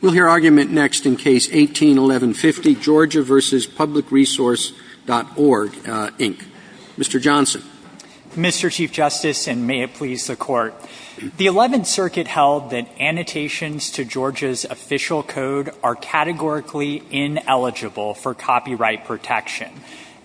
We'll hear argument next in Case 18-11-50, Georgia v. PublicResource.Org, Inc. Mr. Johnson. Mr. Chief Justice, and may it please the Court, the Eleventh Circuit held that annotations to Georgia's official code are categorically ineligible for copyright protection.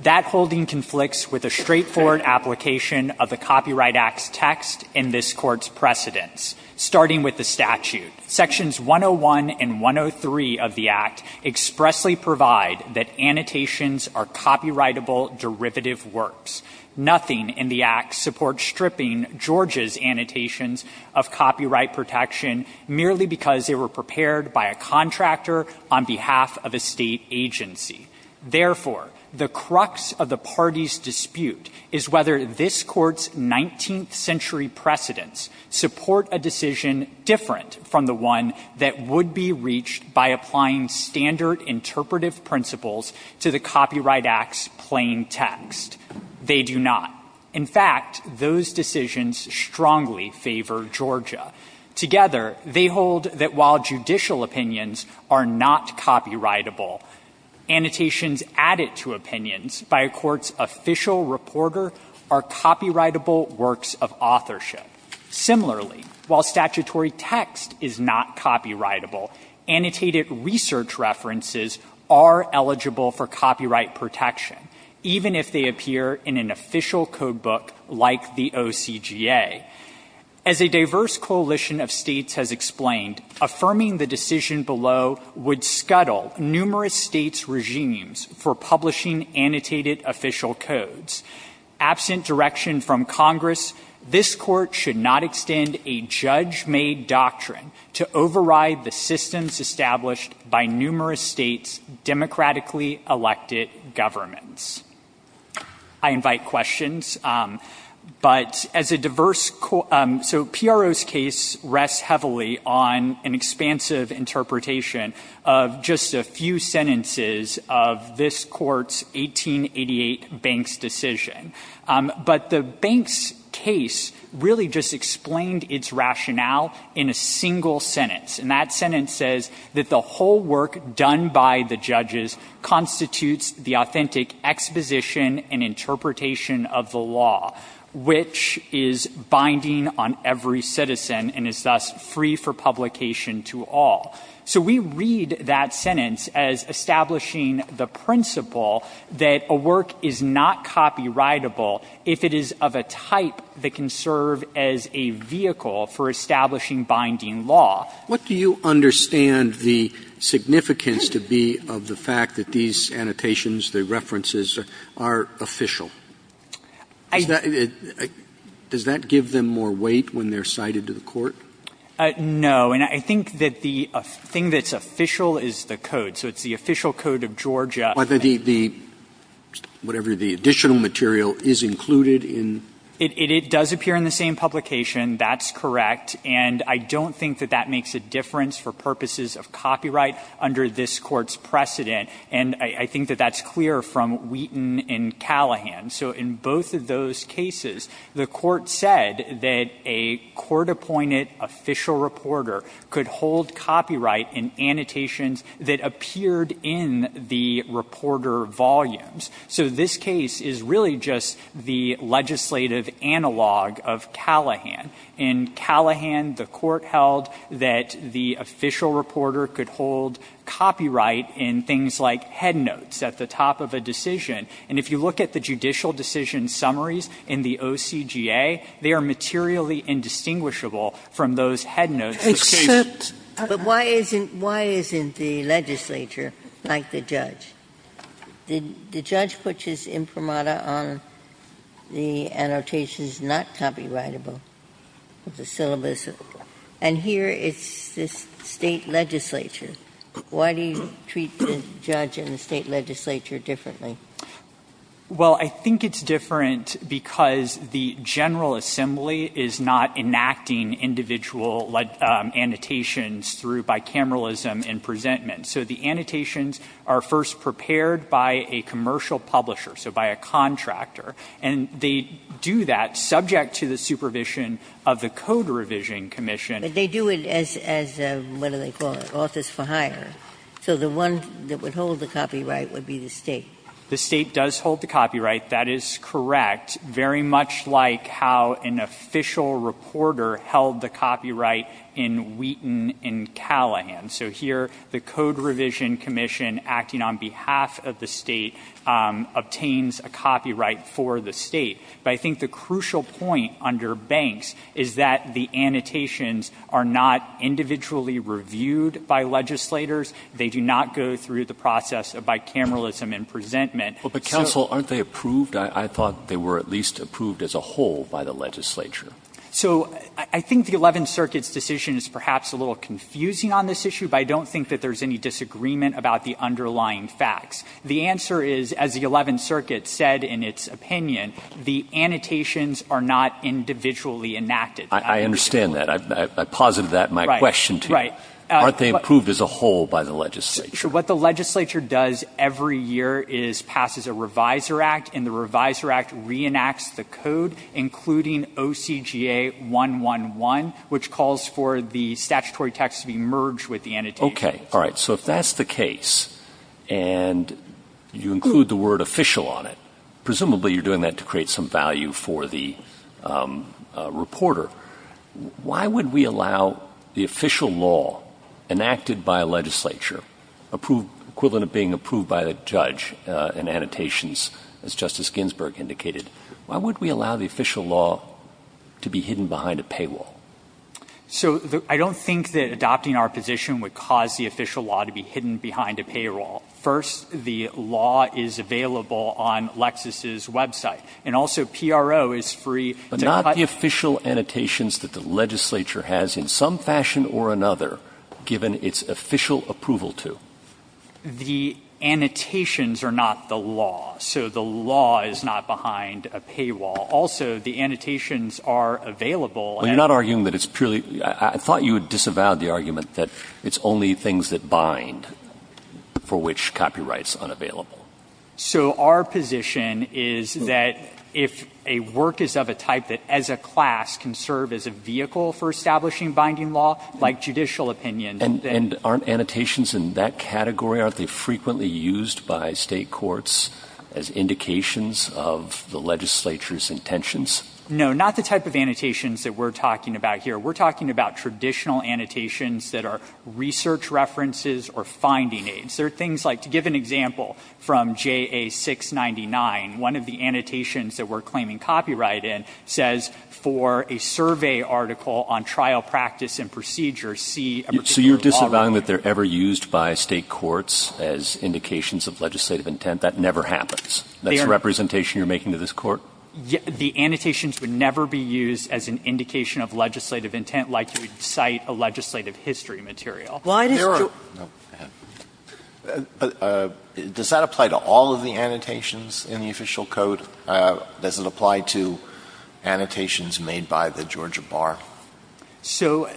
That holding conflicts with a straightforward application of the Copyright Act's text in this Court's precedents, starting with the statute. Sections 101 and 103 of the Act expressly provide that annotations are copyrightable derivative works. Nothing in the Act supports stripping Georgia's annotations of copyright protection merely because they were prepared by a contractor on behalf of a state agency. Therefore, the crux of the party's dispute is whether this Court's 19th century precedents support a decision different from the one that would be reached by applying standard interpretive principles to the Copyright Act's plain text. They do not. In fact, those decisions strongly favor Georgia. Together, they hold that while judicial opinions are not copyrightable, annotations added to opinions by a court's official reporter are copyrightable works of authorship. Similarly, while statutory text is not copyrightable, annotated research references are eligible for copyright protection, even if they appear in an official code book like the OCGA. As a diverse coalition of states has explained, affirming the decision below would scuttle numerous states' regimes for publishing annotated official codes. Absent direction from Congress, this Court should not extend a judge-made doctrine to override the systems established by numerous states' democratically elected governments. I invite questions, but as a diverse – so PRO's case rests heavily on an expansive interpretation of just a few sentences of this Court's 1888 Banks decision. But the Banks case really just explained its rationale in a single sentence, and that sentence says that the whole work done by the judges constitutes the authentic exposition and interpretation of the law, which is binding on every citizen and is thus free for publication to all. So we read that sentence as establishing the principle that a work is not copyrightable if it is of a type that can serve as a vehicle for establishing binding law. What do you understand the significance to be of the fact that these annotations, the references, are official? Does that give them more weight when they're cited to the Court? No. And I think that the thing that's official is the code. So it's the official code of Georgia. Whether the – whatever the additional material is included in – It does appear in the same publication. That's correct. And I don't think that that makes a difference for purposes of copyright under this Court's precedent. And I think that that's clear from Wheaton and Callahan. So in both of those cases, the Court said that a court-appointed official reporter could hold copyright in annotations that appeared in the reporter volumes. So this case is really just the legislative analog of Callahan. In Callahan, the Court held that the official reporter could hold copyright in things like headnotes at the top of a decision. And if you look at the judicial decision summaries in the OCGA, they are materially indistinguishable from those headnotes of cases. But why isn't – why isn't the legislature, like the judge, the judge puts his imprimata on the annotations not copyrightable, the syllabus, and here it's the State legislature. Why do you treat the judge and the State legislature differently? Well, I think it's different because the General Assembly is not enacting individual annotations through bicameralism and presentment. So the annotations are first prepared by a commercial publisher, so by a contractor. And they do that subject to the supervision of the Code Revision Commission. But they do it as, what do they call it, office for hire. So the one that would hold the copyright would be the State. The State does hold the copyright. That is correct, very much like how an official reporter held the copyright in Wheaton in Callahan. So here, the Code Revision Commission, acting on behalf of the State, obtains a copyright for the State. But I think the crucial point under Banks is that the annotations are not individually reviewed by legislators. They do not go through the process of bicameralism and presentment. But, counsel, aren't they approved? I thought they were at least approved as a whole by the legislature. So I think the Eleventh Circuit's decision is perhaps a little confusing on this issue, but I don't think that there's any disagreement about the underlying facts. The answer is, as the Eleventh Circuit said in its opinion, the annotations are not individually enacted. I understand that. I posited that in my question to you. Right. Aren't they approved as a whole by the legislature? What the legislature does every year is passes a Reviser Act, and the Reviser Act reenacts the code, including OCGA 111, which calls for the statutory text to be merged with the annotations. Okay. All right. So if that's the case, and you include the word official on it, presumably you're doing that to create some value for the reporter. Why would we allow the official law enacted by a legislature, equivalent of being approved by the judge in annotations, as Justice Ginsburg indicated, why would we allow the official law to be hidden behind a paywall? So I don't think that adopting our position would cause the official law to be hidden behind a paywall. First, the law is available on Lexis's website, and also PRO is free to cut the official annotations that the legislature has in some fashion or another, given its official approval to. The annotations are not the law, so the law is not behind a paywall. Also, the annotations are available. Well, you're not arguing that it's purely – I thought you disavowed the argument that it's only things that bind for which copyright's unavailable. So our position is that if a work is of a type that as a class can serve as a vehicle for establishing binding law, like judicial opinion, then — And aren't annotations in that category, aren't they frequently used by State courts as indications of the legislature's intentions? No, not the type of annotations that we're talking about here. We're talking about traditional annotations that are research references or finding aids. They're things like, to give an example, from JA 699, one of the annotations that we're claiming copyright in says, for a survey article on trial practice and procedure, see a particular law writer. So you're disavowing that they're ever used by State courts as indications of legislative intent? That never happens? That's a representation you're making to this Court? The annotations would never be used as an indication of legislative intent like you would cite a legislative history material. Why does Georgia – Does that apply to all of the annotations in the Official Code? Does it apply to annotations made by the Georgia Bar? So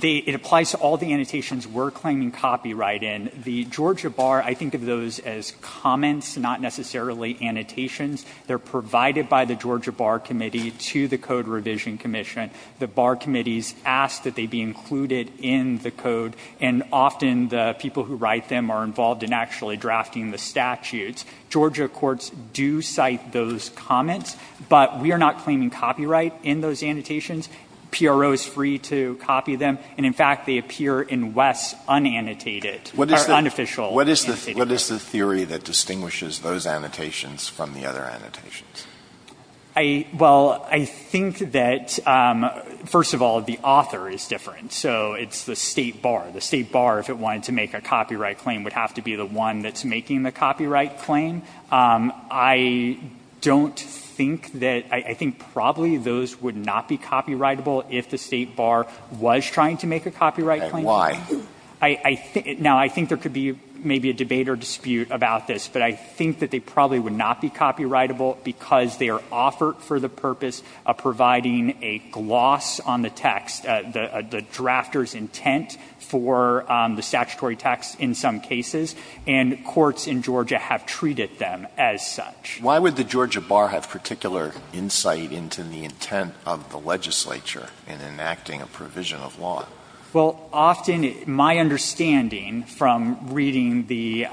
it applies to all the annotations we're claiming copyright in. The Georgia Bar, I think of those as comments, not necessarily annotations. They're provided by the Georgia Bar Committee to the Code Revision Commission. The Bar Committees ask that they be included in the Code, and often the people who write them are involved in actually drafting the statutes. Georgia courts do cite those comments, but we are not claiming copyright in those annotations. PRO is free to copy them, and in fact, they appear in Wess unannotated or unofficial annotations. What is the theory that distinguishes those annotations from the other annotations? Well, I think that, first of all, the author is different. So it's the State Bar. The State Bar, if it wanted to make a copyright claim, would have to be the one that's making the copyright claim. I don't think that – I think probably those would not be copyrightable if the State Bar was trying to make a copyright claim. Why? I think – now, I think there could be maybe a debate or dispute about this, but I think that they probably would not be copyrightable because they are offered for the purpose of providing a gloss on the text, the drafter's intent for the statutory text in some cases, and courts in Georgia have treated them as such. Why would the Georgia Bar have particular insight into the intent of the legislature in enacting a provision of law? Well, often my understanding from reading the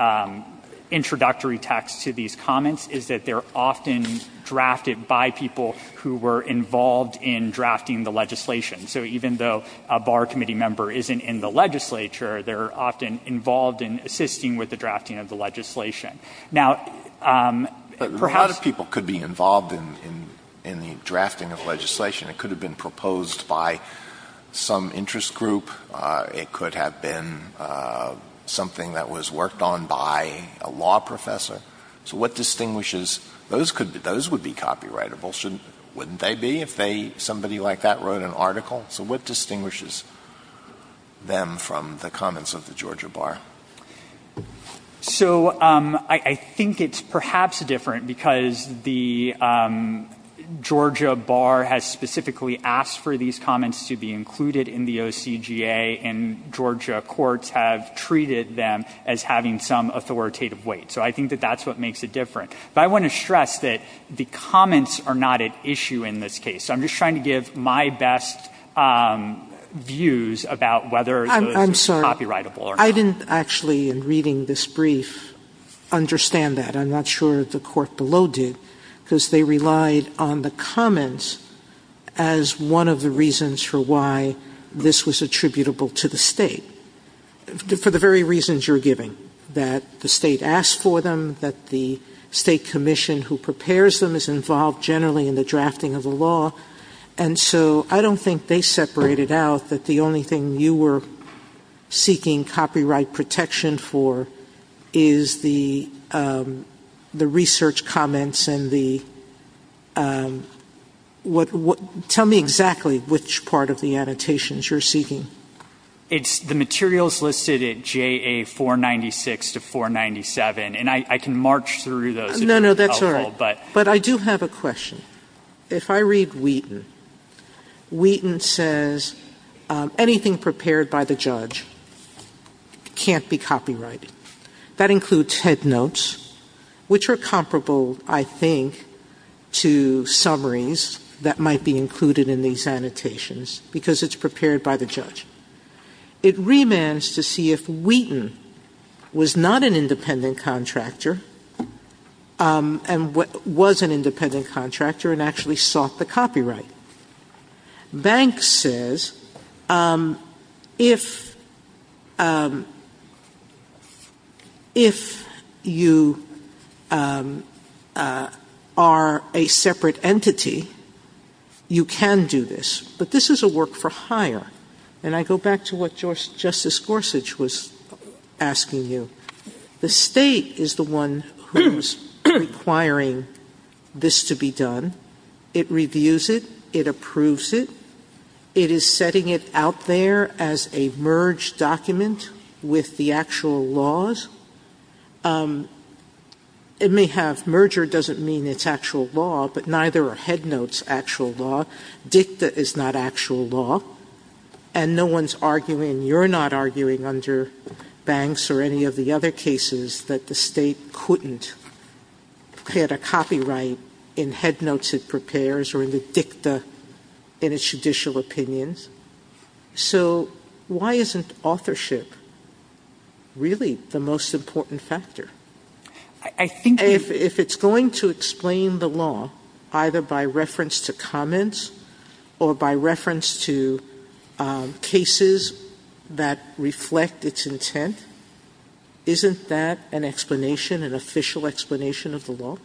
introductory text to these comments is that they are often drafted by people who were involved in drafting the legislation. So even though a bar committee member isn't in the legislature, they are often involved in assisting with the drafting of the legislation. Now, perhaps – But a lot of people could be involved in the drafting of legislation. It could have been proposed by some interest group. It could have been something that was worked on by a law professor. So what distinguishes – those would be copyrightable, wouldn't they be if somebody like that wrote an article? So what distinguishes them from the comments of the Georgia Bar? So I think it's perhaps different because the Georgia Bar has specifically asked for these comments to be included in the OCGA, and Georgia courts have treated them as having some authoritative weight. So I think that that's what makes it different. But I want to stress that the comments are not at issue in this case. I'm just trying to give my best views about whether those are copyrightable or not. I didn't actually, in reading this brief, understand that. I'm not sure the court below did, because they relied on the comments as one of the reasons for why this was attributable to the state, for the very reasons you're giving, that the state asked for them, that the state commission who prepares them is involved generally in the drafting of the law. And so I don't think they separated out that the only thing you were seeking copyright protection for is the research comments and the – tell me exactly which part of the annotations you're seeking. It's the materials listed at JA 496 to 497, and I can march through those. No, no, that's all right. But I do have a question. If I read Wheaton, Wheaton says anything prepared by the judge can't be copyrighted. That includes head notes, which are comparable, I think, to summaries that might be included in these annotations, because it's prepared by the judge. It remands to see if Wheaton was not an independent contractor and was an independent contractor and actually sought the copyright. Banks says if you are a separate entity, you can do this, but this is a work for hire. And I go back to what Justice Gorsuch was asking you. The state is the one who is requiring this to be done. It reviews it. It approves it. It is setting it out there as a merged document with the actual laws. It may have – merger doesn't mean it's actual law, but neither are head notes actual law. Dicta is not actual law. And no one's arguing – you're not arguing under Banks or any of the other cases that the state couldn't put a copyright in head notes it prepares or in the dicta in its judicial opinions. So why isn't authorship really the most important factor? If it's going to explain the law either by reference to comments or by reference to cases that reflect its intent, isn't that an explanation, an official explanation of the law?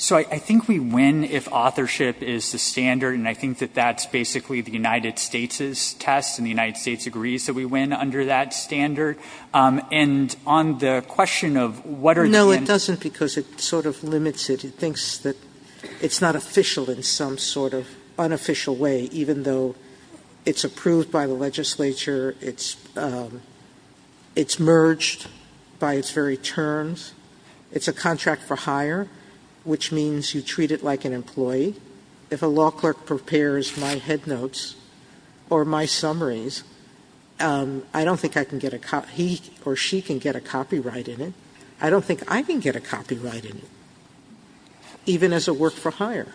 So I think we win if authorship is the standard. And I think that that's basically the United States' test and the United States agrees that we win under that standard. And on the question of what are the – No, it doesn't because it sort of limits it. It thinks that it's not official in some sort of unofficial way, even though it's approved by the legislature. It's merged by its very terms. It's a contract for hire, which means you treat it like an employee. If a law clerk prepares my head notes or my summaries, I don't think I can get a – he or she can get a copyright in it. I don't think I can get a copyright in it, even as a work-for-hire.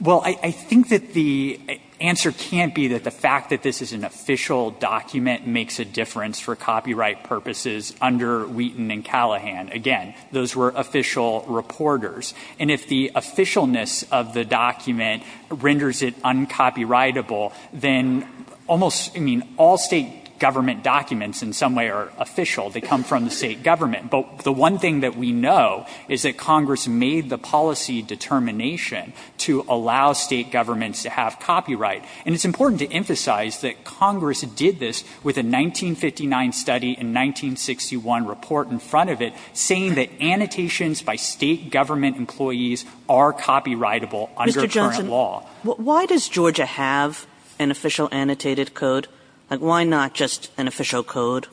Well, I think that the answer can't be that the fact that this is an official document makes a difference for copyright purposes under Wheaton and Callahan. Again, those were official reporters. And if the officialness of the document renders it uncopyrightable, then almost – I mean, all State government documents in some way are official. They come from the State government. But the one thing that we know is that Congress made the policy determination to allow State governments to have copyright. And it's important to emphasize that Congress did this with a 1959 study and 1961 report in front of it, saying that annotations by State government employees are copyrightable under current law. Why does Georgia have an official annotated code? Like, why not just an official code?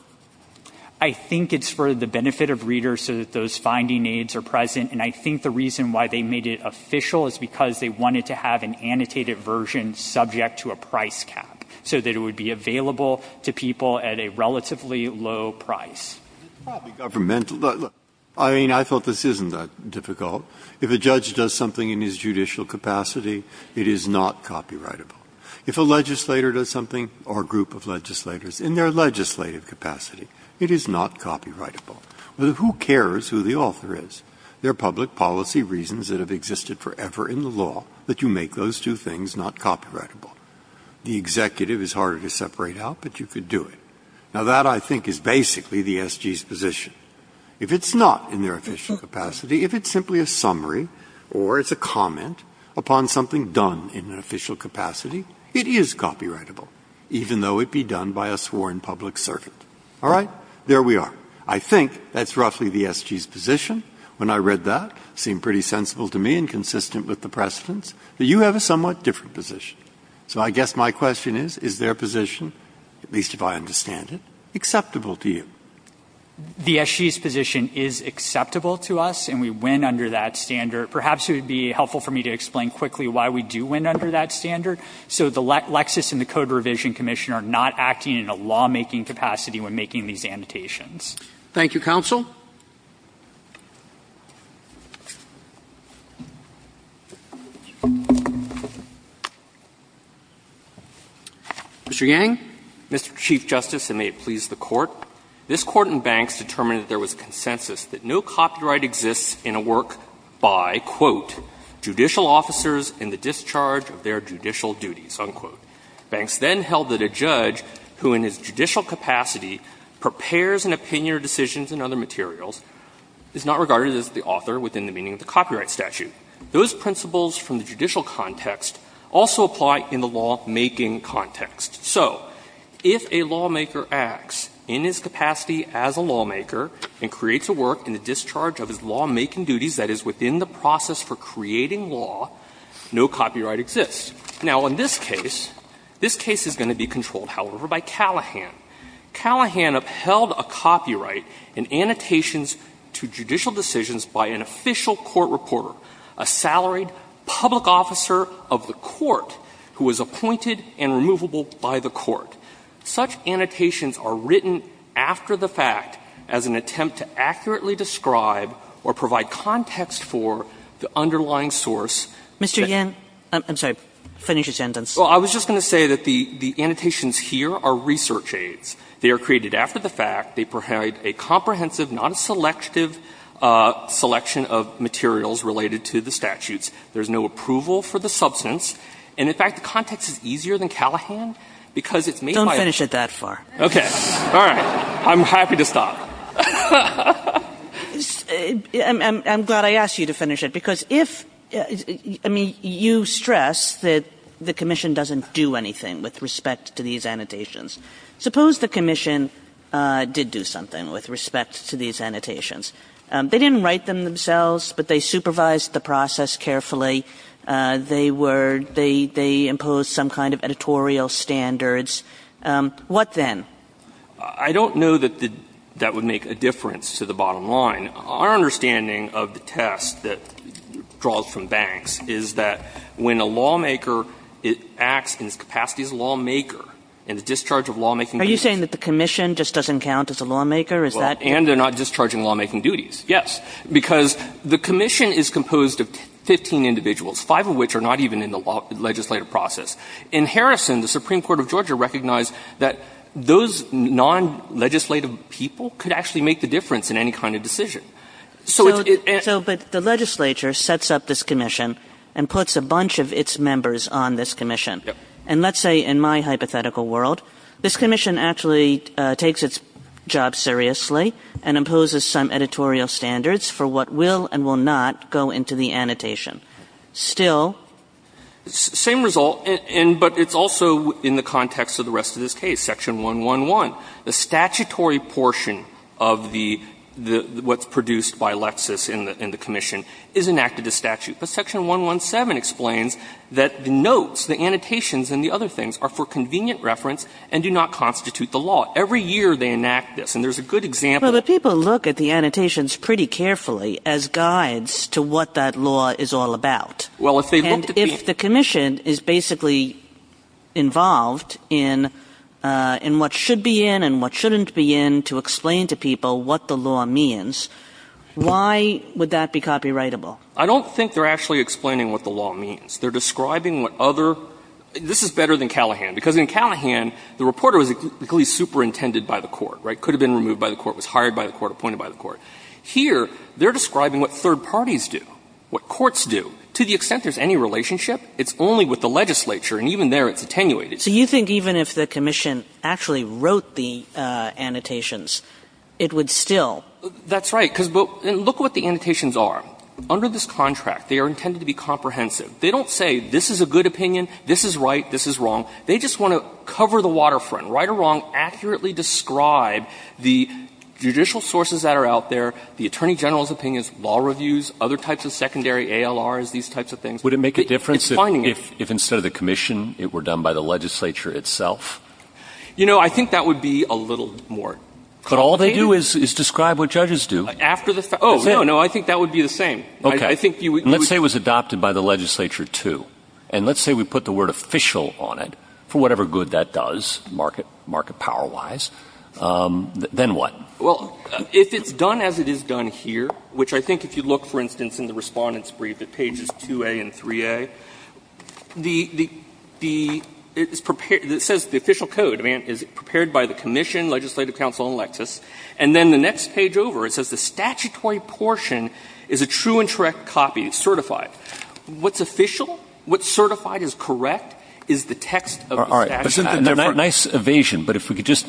I think it's for the benefit of readers so that those finding aids are present. And I think the reason why they made it official is because they wanted to have an annotated version subject to a price cap so that it would be available to people at a relatively low price. It's probably governmental. I mean, I thought this isn't that difficult. If a judge does something in his judicial capacity, it is not copyrightable. If a legislator does something – or a group of legislators – in their legislative capacity, it is not copyrightable. Who cares who the author is? There are public policy reasons that have existed forever in the law that you make those two things not copyrightable. The executive is harder to separate out, but you could do it. Now, that, I think, is basically the SG's position. If it's not in their official capacity, if it's simply a summary or it's a comment upon something done in an official capacity, it is copyrightable, even though it be done by a sworn public servant. All right? There we are. I think that's roughly the SG's position. When I read that, it seemed pretty sensible to me and consistent with the precedents that you have a somewhat different position. So I guess my question is, is their position, at least if I understand it, acceptable The SG's position is acceptable to us, and we win under that standard. Perhaps it would be helpful for me to explain quickly why we do win under that standard so the Lexis and the Code Revision Commission are not acting in a lawmaking capacity when making these annotations. Thank you, counsel. Mr. Yang. Mr. Chief Justice, and may it please the Court. This Court in Banks determined that there was a consensus that no copyright exists in a work by, quote, judicial officers in the discharge of their judicial duties, unquote. Banks then held that a judge who in his judicial capacity prepares an opinion or decisions in other materials is not regarded as the author within the meaning of the copyright statute. Those principles from the judicial context also apply in the lawmaking context. So if a lawmaker acts in his capacity as a lawmaker and creates a work in the discharge of his lawmaking duties that is within the process for creating law, no copyright exists. Now, in this case, this case is going to be controlled, however, by Callahan. Callahan upheld a copyright in annotations to judicial decisions by an official court reporter, a salaried public officer of the court who was appointed and removable by the court. Such annotations are written after the fact as an attempt to accurately describe or provide context for the underlying source. Mr. Yang, I'm sorry, finish your sentence. Well, I was just going to say that the annotations here are research aids. They are created after the fact. They provide a comprehensive, not a selective selection of materials related to the statutes. There is no approval for the substance. And in fact, the context is easier than Callahan because it's made by a lawmaker. Don't finish it that far. Okay. All right. I'm happy to stop. I'm glad I asked you to finish it, because if you stress that the commission doesn't do anything with respect to these annotations. Suppose the commission did do something with respect to these annotations. They didn't write them themselves, but they supervised the process carefully. They were they imposed some kind of editorial standards. What then? I don't know that that would make a difference to the bottom line. Our understanding of the test that draws from Banks is that when a lawmaker acts in his capacity as a lawmaker and the discharge of lawmaking duties. Are you saying that the commission just doesn't count as a lawmaker? Is that true? And they're not discharging lawmaking duties. Yes. Because the commission is composed of 15 individuals, five of which are not even in the legislative process. In Harrison, the Supreme Court of Georgia recognized that those non-legislative people could actually make the difference in any kind of decision. So it's. So, but the legislature sets up this commission and puts a bunch of its members on this commission. Yep. And let's say in my hypothetical world, this commission actually takes its job seriously and imposes some editorial standards for what will and will not go into the annotation. Still. Same result, but it's also in the context of the rest of this case. Section 111. The statutory portion of the what's produced by Lexis in the commission is enacted as statute. But Section 117 explains that the notes, the annotations, and the other things are for convenient reference and do not constitute the law. Every year they enact this. And there's a good example. Well, the people look at the annotations pretty carefully as guides to what that law is all about. Well, if they look to be. And if the commission is basically involved in what should be in and what shouldn't be in to explain to people what the law means, why would that be copyrightable? I don't think they're actually explaining what the law means. They're describing what other. This is better than Callahan. Because in Callahan, the reporter was equally superintended by the court, right? Could have been removed by the court, was hired by the court, appointed by the court. Here, they're describing what third parties do, what courts do. To the extent there's any relationship, it's only with the legislature. And even there, it's attenuated. Kagan. So you think even if the commission actually wrote the annotations, it would still That's right. Because look what the annotations are. Under this contract, they are intended to be comprehensive. They don't say this is a good opinion, this is right, this is wrong. They just want to cover the waterfront, right or wrong, accurately describe the judicial sources that are out there, the attorney general's opinions, law reviews, other types of secondary ALRs, these types of things. Would it make a difference if instead of the commission, it were done by the legislature itself? You know, I think that would be a little more complicated. But all they do is describe what judges do. After the fact. Oh, no, no. I think that would be the same. Okay. Let's say it was adopted by the legislature, too. And let's say we put the word official on it, for whatever good that does, market power-wise. Then what? Well, if it's done as it is done here, which I think if you look, for instance, in the Respondent's Brief at pages 2A and 3A, the, it says the official code is prepared by the commission, legislative council, and Lexis. And then the next page over, it says the statutory portion is a true and correct copy, certified. What's official, what's certified is correct, is the text of the statute. All right. Nice evasion. But if we could just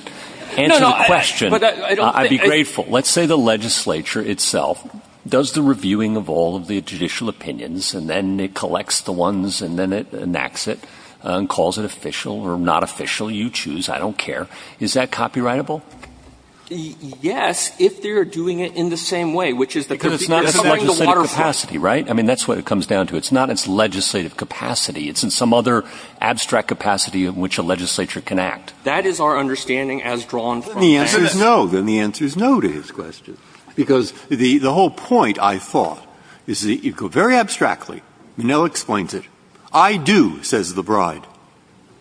answer the question, I'd be grateful. Let's say the legislature itself does the reviewing of all of the judicial opinions and then it collects the ones and then it enacts it and calls it official or not official. You choose. I don't care. Is that copyrightable? Yes, if they are doing it in the same way, which is the procedure. Because it's not the legislative capacity, right? I mean, that's what it comes down to. It's not its legislative capacity. It's in some other abstract capacity in which a legislature can act. That is our understanding as drawn from this. Then the answer is no. Then the answer is no to his question. Because the whole point, I thought, is that you go very abstractly. Minnell explains it. I do, says the bride.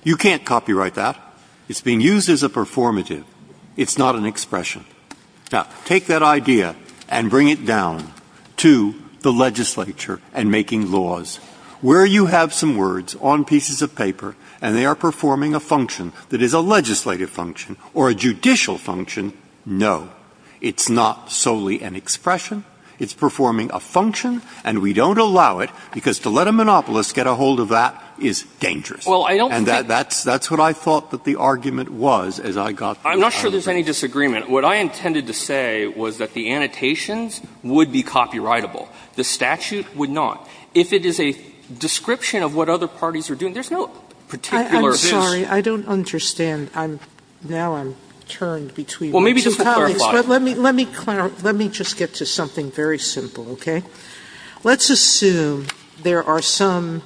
You can't copyright that. It's being used as a performative. It's not an expression. Now, take that idea and bring it down to the legislature and making laws. Where you have some words on pieces of paper and they are performing a function that is a legislative function or a judicial function, no. It's not solely an expression. It's performing a function, and we don't allow it because to let a monopolist get a hold of that is dangerous. And that's what I thought that the argument was as I got the argument. So I'm not sure there's any disagreement. What I intended to say was that the annotations would be copyrightable. The statute would not. If it is a description of what other parties are doing, there's no particular this. Sotomayor, I'm sorry. I don't understand. Now I'm turned between two colleagues. Well, maybe just to clarify. Let me just get to something very simple, okay? Let's assume there are some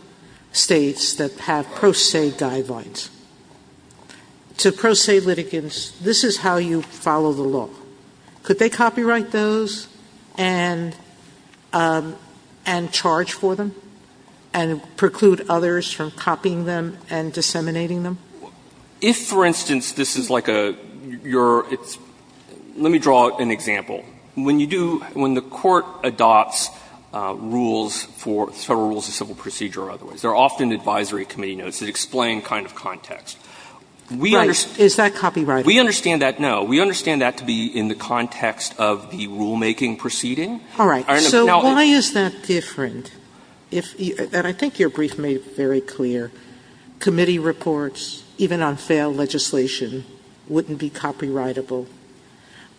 States that have pro se guidelines. To pro se litigants, this is how you follow the law. Could they copyright those and charge for them and preclude others from copying them and disseminating them? If, for instance, this is like a your – let me draw an example. When you do – when the Court adopts rules for Federal Rules of Civil Procedure or otherwise, there are often advisory committee notes that explain kind of context. Right. Is that copyrightable? We understand that, no. We understand that to be in the context of the rulemaking proceeding. All right. So why is that different? And I think your brief made it very clear. Committee reports, even on failed legislation, wouldn't be copyrightable.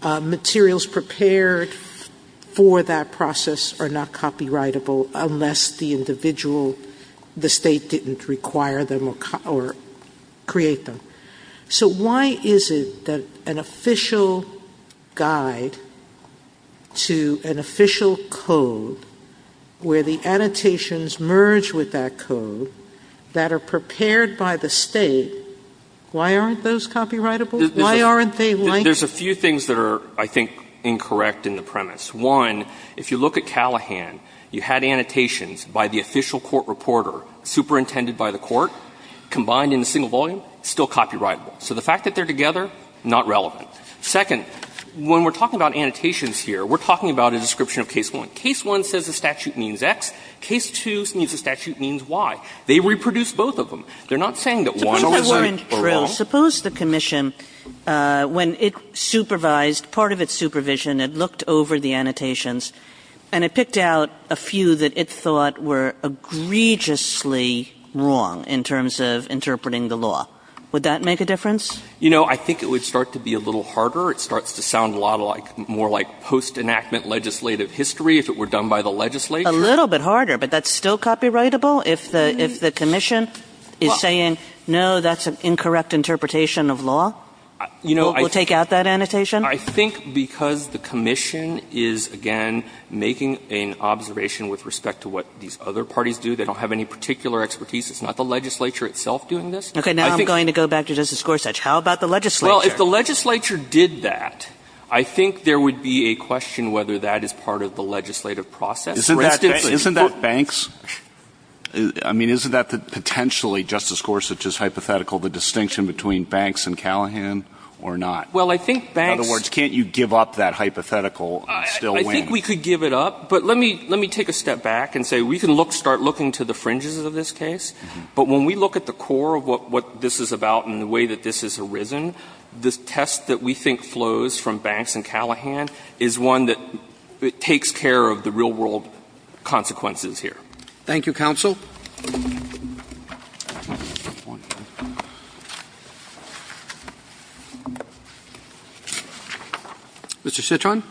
Materials prepared for that process are not copyrightable unless the individual or the State didn't require them or create them. So why is it that an official guide to an official code where the annotations merge with that code that are prepared by the State, why aren't those copyrightable? Why aren't they like? There's a few things that are, I think, incorrect in the premise. One, if you look at Callahan, you had annotations by the official court reporter superintended by the court combined in a single volume, still copyrightable. So the fact that they're together, not relevant. Second, when we're talking about annotations here, we're talking about a description of case one. Case one says the statute means X. Case two means the statute means Y. They reproduced both of them. They're not saying that one was right or wrong. Suppose the commission, when it supervised part of its supervision, it looked over the annotations and it picked out a few that it thought were egregiously wrong in terms of interpreting the law. Would that make a difference? You know, I think it would start to be a little harder. It starts to sound a lot more like post-enactment legislative history if it were done by the legislature. A little bit harder, but that's still copyrightable? If the commission is saying, no, that's an incorrect interpretation of law? We'll take out that annotation? I think because the commission is, again, making an observation with respect to what these other parties do. They don't have any particular expertise. It's not the legislature itself doing this. Okay. Now I'm going to go back to Justice Gorsuch. How about the legislature? Well, if the legislature did that, I think there would be a question whether that is part of the legislative process. Isn't that banks? I mean, isn't that potentially, Justice Gorsuch's hypothetical, the distinction between banks and Callahan or not? Well, I think banks In other words, can't you give up that hypothetical and still win? I think we could give it up. But let me take a step back and say we can start looking to the fringes of this case. But when we look at the core of what this is about and the way that this has arisen, the test that we think flows from banks and Callahan is one that takes care of the real-world consequences here. Thank you, counsel. Mr. Chitron.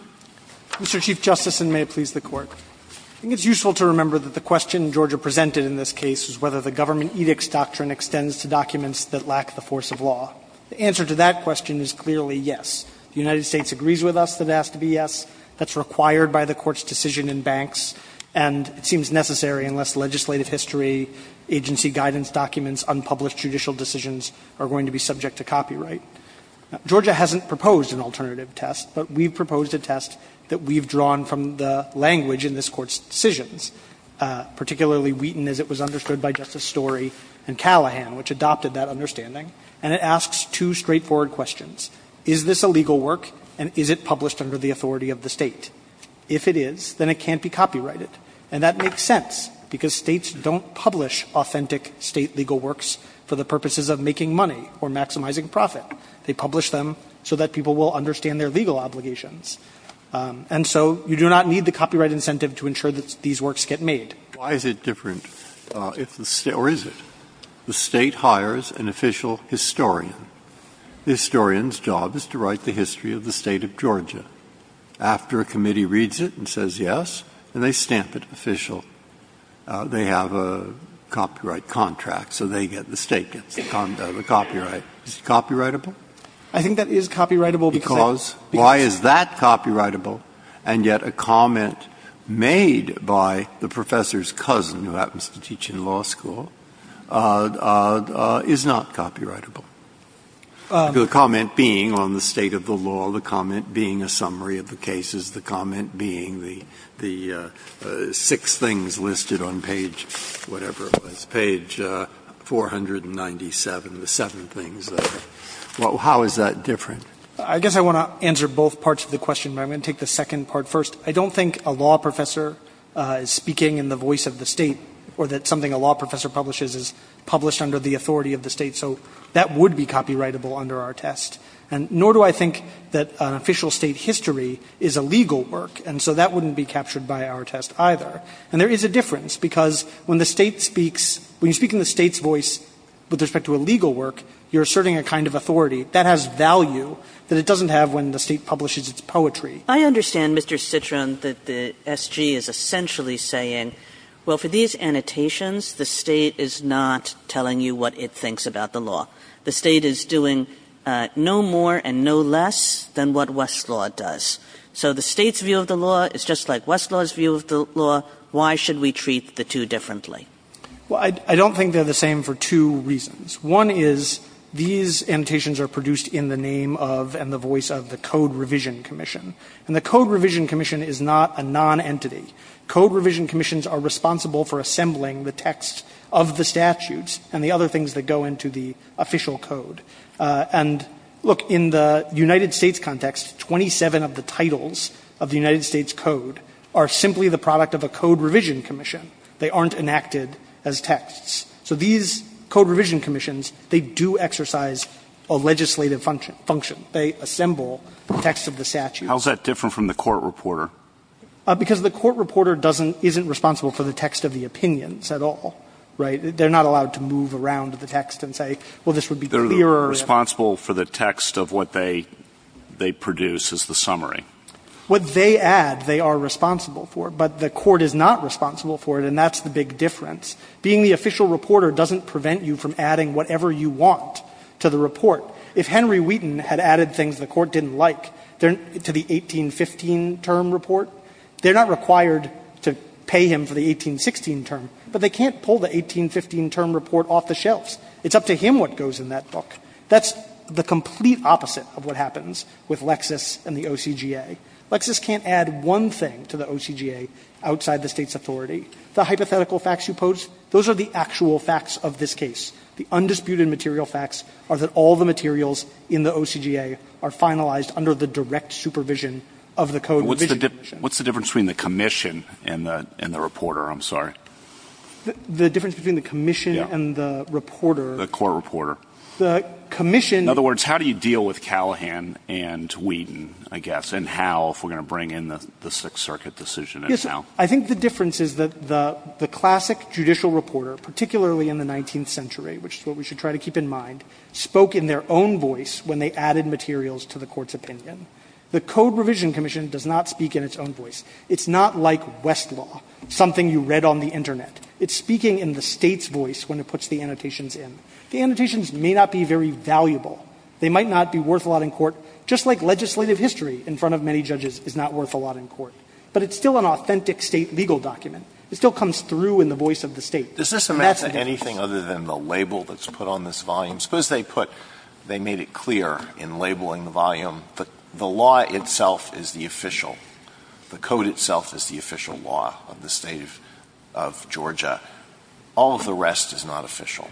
Mr. Chief Justice, and may it please the Court. I think it's useful to remember that the question Georgia presented in this case was whether the government edicts doctrine extends to documents that lack the force of law. The answer to that question is clearly yes. The United States agrees with us that it has to be yes. That's required by the Court's decision in banks. And it seems necessary unless legislative history, agency guidance documents, unpublished judicial decisions are going to be subject to copyright. Georgia hasn't proposed an alternative test, but we've proposed a test that we've drawn from the language in this Court's decisions, particularly Wheaton, as it was understood by Justice Story and Callahan, which adopted that understanding. And it asks two straightforward questions. Is this a legal work, and is it published under the authority of the State? If it is, then it can't be copyrighted. And that makes sense, because States don't publish authentic State legal works for the purposes of making money or maximizing profit. They publish them so that people will understand their legal obligations. And so you do not need the copyright incentive to ensure that these works get made. Why is it different if the State or is it? The State hires an official historian. The historian's job is to write the history of the State of Georgia. After a committee reads it and says yes, and they stamp it official, they have a copyright contract, so they get the State gets the copyright. Is it copyrightable? I think that is copyrightable because they Because why is that copyrightable? And yet a comment made by the professor's cousin, who happens to teach in law school, is not copyrightable. The comment being on the State of the law, the comment being a summary of the cases, the comment being the six things listed on page whatever it was, page 497, the seven things. How is that different? I guess I want to answer both parts of the question, but I'm going to take the second part first. I don't think a law professor is speaking in the voice of the State or that something a law professor publishes is published under the authority of the State. So that would be copyrightable under our test, and nor do I think that an official State history is a legal work, and so that wouldn't be captured by our test either. And there is a difference, because when the State speaks, when you speak in the State's voice with respect to a legal work, you're asserting a kind of authority. That has value that it doesn't have when the State publishes its poetry. Kagan. I understand, Mr. Citroen, that the SG is essentially saying, well, for these annotations, the State is not telling you what it thinks about the law. The State is doing no more and no less than what Westlaw does. So the State's view of the law is just like Westlaw's view of the law. Why should we treat the two differently? Well, I don't think they're the same for two reasons. One is these annotations are produced in the name of and the voice of the Code Revision Commission, and the Code Revision Commission is not a nonentity. Code Revision Commissions are responsible for assembling the text of the statutes and the other things that go into the official code. And, look, in the United States context, 27 of the titles of the United States Code are simply the product of a Code Revision Commission. They aren't enacted as texts. So these Code Revision Commissions, they do exercise a legislative function. They assemble the text of the statute. How is that different from the court reporter? Because the court reporter doesn't — isn't responsible for the text of the opinions at all, right? They're not allowed to move around the text and say, well, this would be clearer if — They're responsible for the text of what they produce as the summary. What they add, they are responsible for. But the court is not responsible for it, and that's the big difference. Being the official reporter doesn't prevent you from adding whatever you want to the report. If Henry Wheaton had added things the court didn't like to the 1815 term report, they're not required to pay him for the 1816 term, but they can't pull the 1815 term report off the shelves. It's up to him what goes in that book. That's the complete opposite of what happens with Lexis and the OCGA. Lexis can't add one thing to the OCGA outside the State's authority. The hypothetical facts you pose, those are the actual facts of this case. The undisputed material facts are that all the materials in the OCGA are finalized under the direct supervision of the code revision commission. What's the difference between the commission and the reporter? I'm sorry. The difference between the commission and the reporter — The court reporter. The commission — In other words, how do you deal with Callahan and Wheaton, I guess, and how if we're going to bring in the Sixth Circuit decision in now? I think the difference is that the classic judicial reporter, particularly in the 19th century, which is what we should try to keep in mind, spoke in their own voice when they added materials to the court's opinion. The code revision commission does not speak in its own voice. It's not like Westlaw, something you read on the Internet. It's speaking in the State's voice when it puts the annotations in. The annotations may not be very valuable. They might not be worth a lot in court, just like legislative history in front of many judges is not worth a lot in court. But it's still an authentic State legal document. It still comes through in the voice of the State. And that's the difference. Alito Is this a matter of anything other than the label that's put on this volume? Suppose they put, they made it clear in labeling the volume that the law itself is the official, the code itself is the official law of the State of Georgia. All of the rest is not official.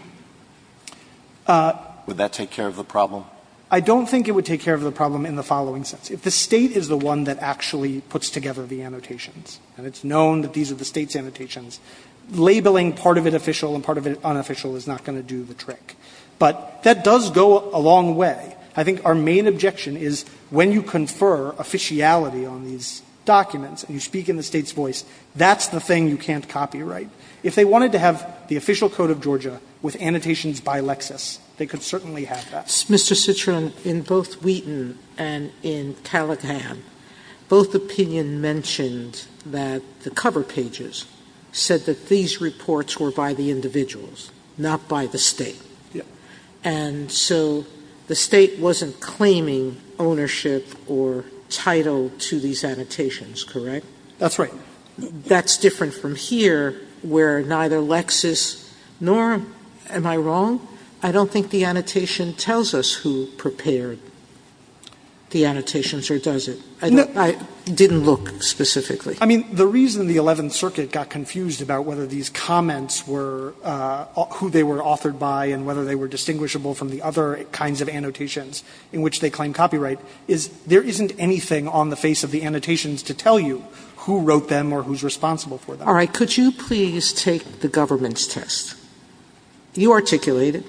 Would that take care of the problem? I don't think it would take care of the problem in the following sense. If the State is the one that actually puts together the annotations, and it's known that these are the State's annotations, labeling part of it official and part of it But that does go a long way. I think our main objection is when you confer officiality on these documents and you speak in the State's voice, that's the thing you can't copyright. If they wanted to have the official code of Georgia with annotations by Lexis, they could certainly have that. Sotomayor Mr. Citrin, in both Wheaton and in Callaghan, both opinion mentioned that the cover pages said that these reports were by the individuals, not by the State. And so the State wasn't claiming ownership or title to these annotations, correct? Citrin That's right. Sotomayor That's different from here where neither Lexis nor am I wrong? I don't think the annotation tells us who prepared the annotations or does it. I didn't look specifically. Citrin I mean, the reason the Eleventh Circuit got confused about whether these were distinguishable from the other kinds of annotations in which they claim copyright is there isn't anything on the face of the annotations to tell you who wrote them or who's responsible for them. Sotomayor All right. Could you please take the government's test? You articulate it,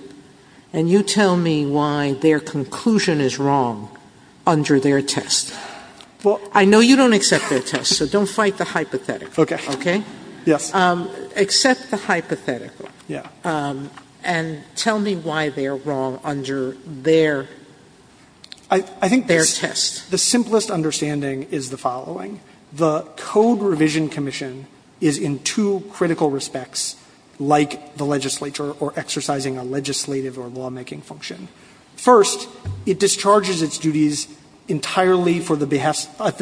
and you tell me why their conclusion is wrong under their test. I know you don't accept their test, so don't fight the hypothetical. Okay? Except the hypothetical. And tell me why they're wrong under their test. Citrin I think the simplest understanding is the following. The Code Revision Commission is in two critical respects like the legislature or exercising a legislative or lawmaking function. First, it discharges its duties entirely at the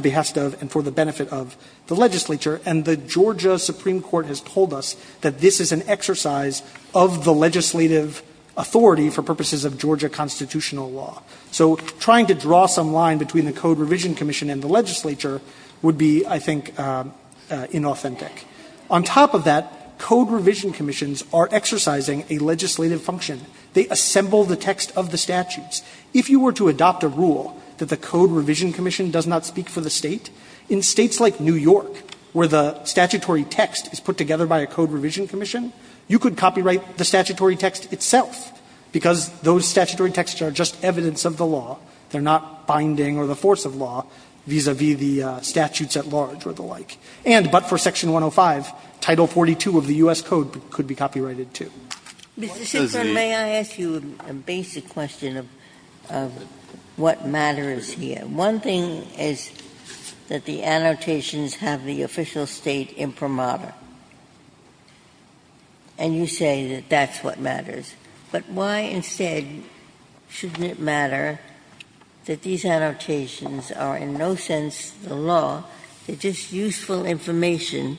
behest of and for the benefit of the legislature. And the Georgia Supreme Court has told us that this is an exercise of the legislative authority for purposes of Georgia constitutional law. So trying to draw some line between the Code Revision Commission and the legislature would be, I think, inauthentic. On top of that, Code Revision Commissions are exercising a legislative function. They assemble the text of the statutes. If you were to adopt a rule that the Code Revision Commission does not speak for the State, in States like New York, where the statutory text is put together by a Code Revision Commission, you could copyright the statutory text itself, because those statutory texts are just evidence of the law. They're not binding or the force of law vis-à-vis the statutes at large or the like. And but for Section 105, Title 42 of the U.S. Code could be copyrighted, too. Ginsburg, may I ask you a basic question of what matters here? One thing is that the annotations have the official State imprimatur. And you say that that's what matters. But why instead shouldn't it matter that these annotations are in no sense the law, they're just useful information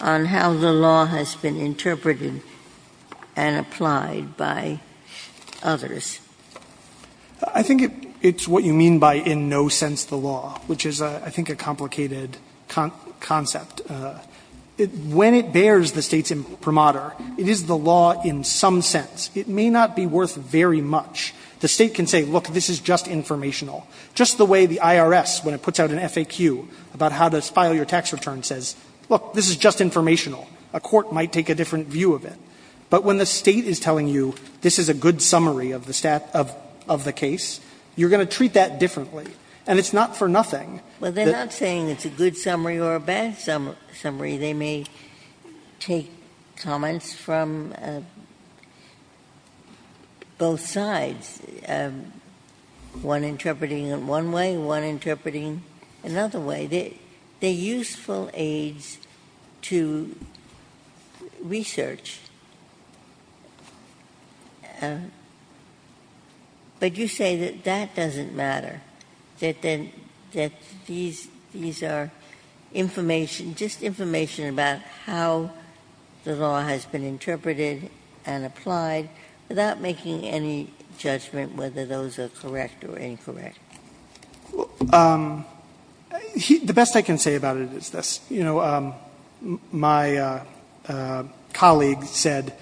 on how the law has been interpreted and applied by others? I think it's what you mean by in no sense the law, which is, I think, a complicated concept. When it bears the State's imprimatur, it is the law in some sense. It may not be worth very much. The State can say, look, this is just informational. Just the way the IRS, when it puts out an FAQ about how to file your tax return, says, look, this is just informational. A court might take a different view of it. But when the State is telling you, this is a good summary of the case, you're going to treat that differently. And it's not for nothing. Ginsburg. Well, they're not saying it's a good summary or a bad summary. They may take comments from both sides, one interpreting it one way, one interpreting another way. They're useful aids to research. But you say that that doesn't matter, that these are information, just information about how the law has been interpreted and applied without making any judgment whether those are correct or incorrect. Okay. The best I can say about it is this. You know, my colleague said,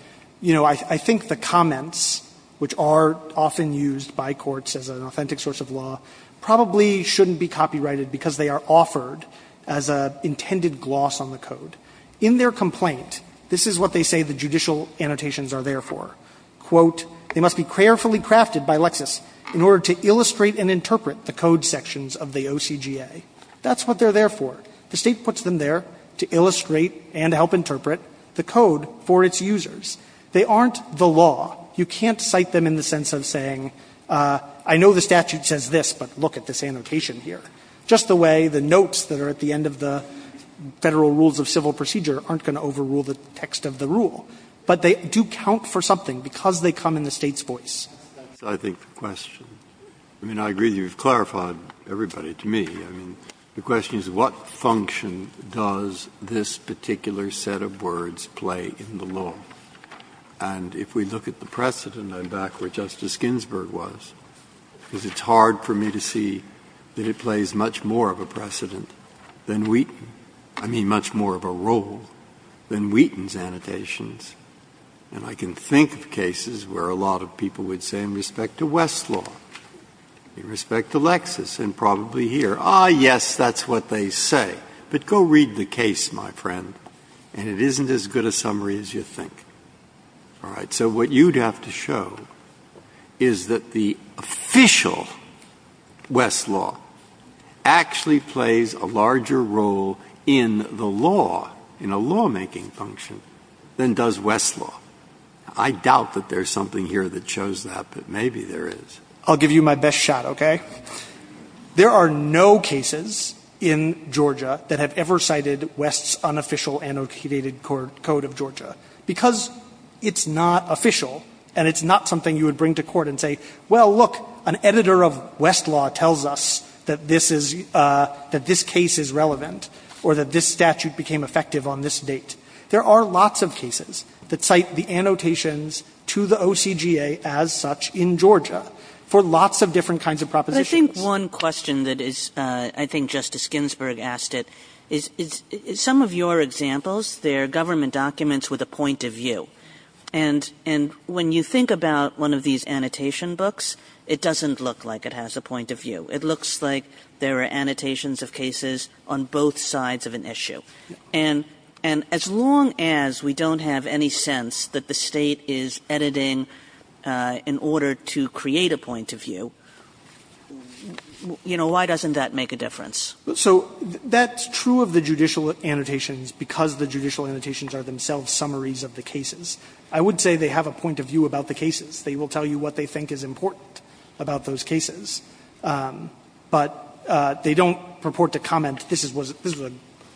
you know, I think the comments, which are often used by courts as an authentic source of law, probably shouldn't be copyrighted because they are offered as an intended gloss on the code. In their complaint, this is what they say the judicial annotations are there for. Quote, they must be carefully crafted by Lexis in order to illustrate and interpret the code sections of the OCGA. That's what they're there for. The State puts them there to illustrate and help interpret the code for its users. They aren't the law. You can't cite them in the sense of saying, I know the statute says this, but look at this annotation here. Just the way the notes that are at the end of the Federal Rules of Civil Procedure aren't going to overrule the text of the rule. But they do count for something because they come in the State's voice. Breyer. I think the question, I mean, I agree that you've clarified everybody to me. I mean, the question is what function does this particular set of words play in the law? And if we look at the precedent, I'm back where Justice Ginsburg was, because it's hard for me to see that it plays much more of a precedent than Wheaton, I mean much more of a role than Wheaton's annotations. And I can think of cases where a lot of people would say in respect to Westlaw, in respect to Lexis, and probably here, ah, yes, that's what they say. But go read the case, my friend, and it isn't as good a summary as you think. All right. So what you'd have to show is that the official Westlaw actually plays a larger role in the law, in a lawmaking function, than does Westlaw. I doubt that there's something here that shows that, but maybe there is. I'll give you my best shot, okay? There are no cases in Georgia that have ever cited West's unofficial annotated code of Georgia. Because it's not official, and it's not something you would bring to court and say, well, look, an editor of Westlaw tells us that this is, ah, that this case is relevant or that this statute became effective on this date. There are lots of cases that cite the annotations to the OCGA as such in Georgia for lots of different kinds of propositions. Kagan. But I think one question that is, I think Justice Ginsburg asked it, is some of your examples, they're government documents with a point of view. And when you think about one of these annotation books, it doesn't look like it has a point of view. It looks like there are annotations of cases on both sides of an issue. And as long as we don't have any sense that the State is editing in order to create a point of view, you know, why doesn't that make a difference? So that's true of the judicial annotations because the judicial annotations are themselves summaries of the cases. I would say they have a point of view about the cases. They will tell you what they think is important about those cases. But they don't purport to comment, this was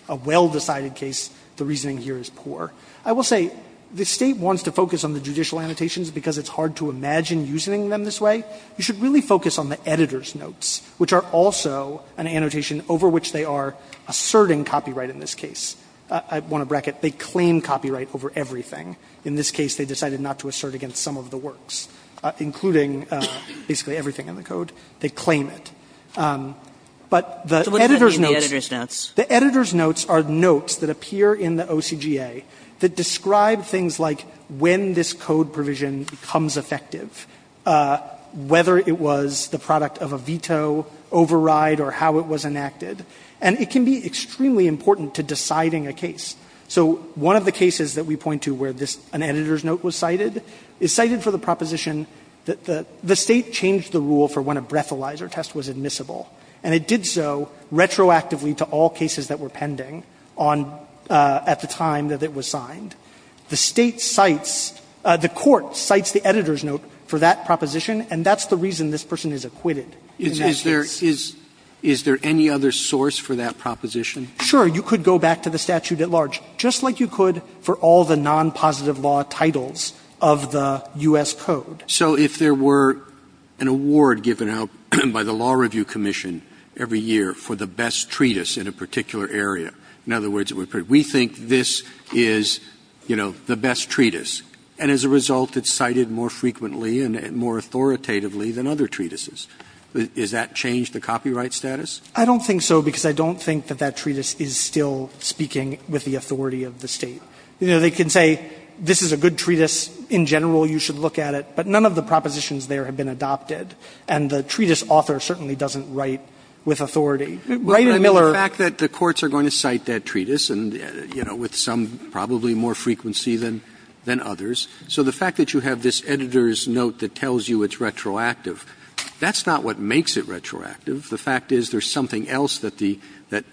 a well-decided case, the reasoning here is poor. I will say the State wants to focus on the judicial annotations because it's hard to imagine using them this way. You should really focus on the editor's notes, which are also an annotation over which they are asserting copyright in this case. I want to bracket, they claim copyright over everything. In this case, they decided not to assert against some of the works, including basically everything in the code. They claim it. But the editor's notes. The editor's notes are notes that appear in the OCGA that describe things like when this code provision becomes effective, whether it was the product of a veto override or how it was enacted. And it can be extremely important to deciding a case. So one of the cases that we point to where this, an editor's note was cited, is cited for the proposition that the State changed the rule for when a breathalyzer test was admissible. And it did so retroactively to all cases that were pending on, at the time that it was signed. The State cites, the Court cites the editor's note for that proposition, and that's the reason this person is acquitted. In that case. Roberts. Is there any other source for that proposition? Sure. You could go back to the statute at large, just like you could for all the non-positive law titles of the U.S. Code. So if there were an award given out by the Law Review Commission every year for the best treatise in a particular area, in other words, we think this is, you know, the best treatise. And as a result, it's cited more frequently and more authoritatively than other treatises. Does that change the copyright status? I don't think so, because I don't think that that treatise is still speaking with the authority of the State. You know, they can say this is a good treatise, in general you should look at it, but none of the propositions there have been adopted. And the treatise author certainly doesn't write with authority. Wright and Miller. But I mean the fact that the courts are going to cite that treatise and, you know, with some, probably more frequency than others. So the fact that you have this editor's note that tells you it's retroactive, that's not what makes it retroactive. The fact is there's something else that the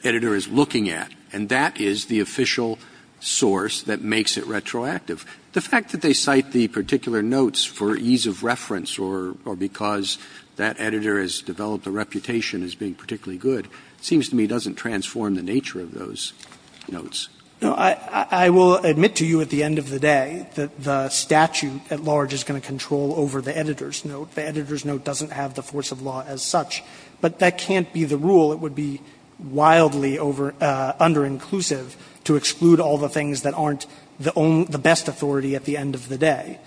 editor is looking at, and that is the official source that makes it retroactive. The fact that they cite the particular notes for ease of reference or because that editor has developed a reputation as being particularly good seems to me doesn't transform the nature of those notes. Now, I will admit to you at the end of the day that the statute at large is going to control over the editor's note. The editor's note doesn't have the force of law as such. But that can't be the rule. It would be wildly under-inclusive to exclude all the things that aren't the best authority at the end of the day.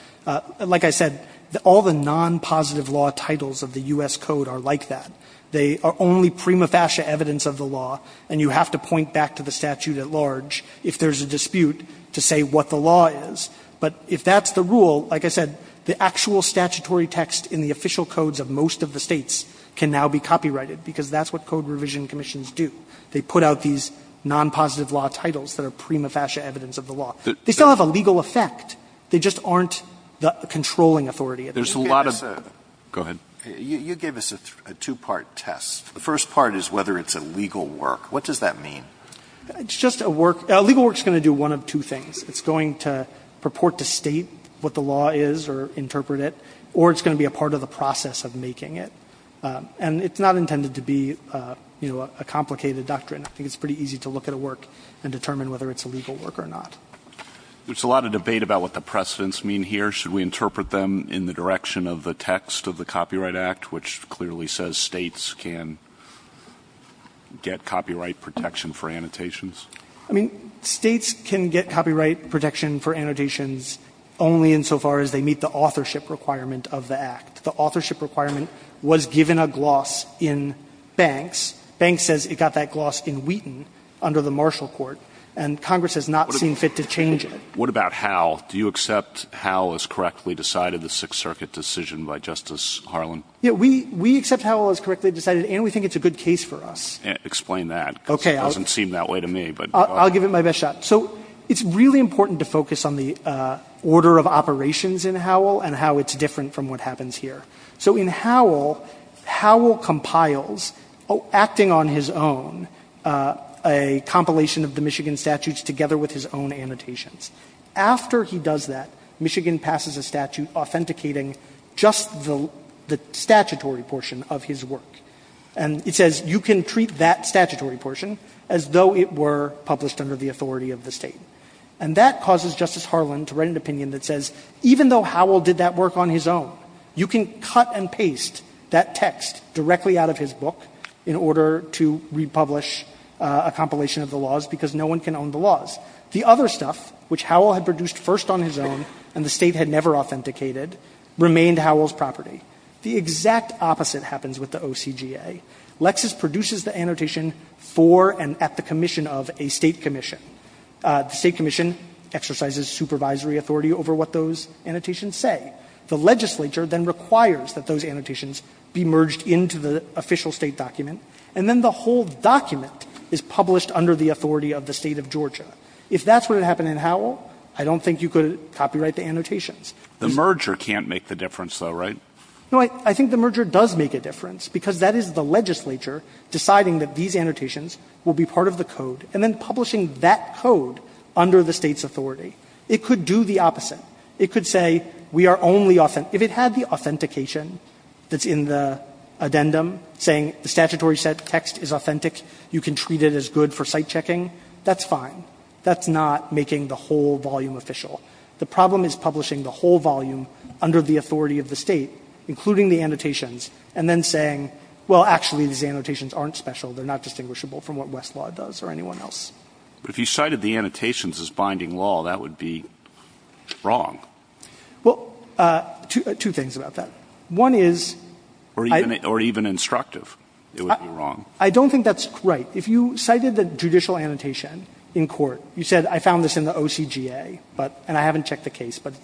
Like I said, all the non-positive law titles of the U.S. Code are like that. They are only prima facie evidence of the law, and you have to point back to the statute at large if there's a dispute to say what the law is. But if that's the rule, like I said, the actual statutory text in the official codes of most of the states can now be copyrighted because that's what Code Revision Commissions do. They put out these non-positive law titles that are prima facie evidence of the law. They still have a legal effect. They just aren't the controlling authority. There's a lot of them. Go ahead. You gave us a two-part test. The first part is whether it's a legal work. What does that mean? It's just a work. A legal work is going to do one of two things. It's going to purport to State what the law is or interpret it, or it's going to be a part of the process of making it. And it's not intended to be, you know, a complicated doctrine. I think it's pretty easy to look at a work and determine whether it's a legal work or not. There's a lot of debate about what the precedents mean here. Should we interpret them in the direction of the text of the Copyright Act, which clearly says States can get copyright protection for annotations? I mean, States can get copyright protection for annotations only insofar as they meet the authorship requirement of the Act. The authorship requirement was given a gloss in Banks. Banks says it got that gloss in Wheaton under the Marshall Court, and Congress has not seen fit to change it. What about Howe? Do you accept Howe has correctly decided the Sixth Circuit decision by Justice Harlan? Yeah. We accept Howe has correctly decided, and we think it's a good case for us. Explain that. Okay. Because it doesn't seem that way to me. I'll give it my best shot. So it's really important to focus on the order of operations in Howe and how it's different from what happens here. So in Howe, Howe compiles, acting on his own, a compilation of the Michigan statutes together with his own annotations. After he does that, Michigan passes a statute authenticating just the statutory portion of his work. And it says you can treat that statutory portion as though it were published under the authority of the State. And that causes Justice Harlan to write an opinion that says even though Howell did that work on his own, you can cut and paste that text directly out of his book in order to republish a compilation of the laws because no one can own the laws. The other stuff, which Howell had produced first on his own and the State had never authenticated, remained Howell's property. The exact opposite happens with the OCGA. Lexis produces the annotation for and at the commission of a State commission. The State commission exercises supervisory authority over what those annotations say. The legislature then requires that those annotations be merged into the official State document. And then the whole document is published under the authority of the State of Georgia. If that's what had happened in Howell, I don't think you could copyright the annotations. The merger can't make the difference, though, right? No. I think the merger does make a difference because that is the legislature deciding that these annotations will be part of the code and then publishing that code under the State's authority. It could do the opposite. It could say we are only authenticating. If it had the authentication that's in the addendum saying the statutory text is authentic, you can treat it as good for site checking, that's fine. That's not making the whole volume official. The problem is publishing the whole volume under the authority of the State, including the annotations, and then saying, well, actually, these annotations aren't special, they're not distinguishable from what Westlaw does or anyone else. But if you cited the annotations as binding law, that would be wrong. Well, two things about that. One is I don't think that's right. If you cited the judicial annotation in court, you said I found this in the OCGA, and I haven't checked the case, but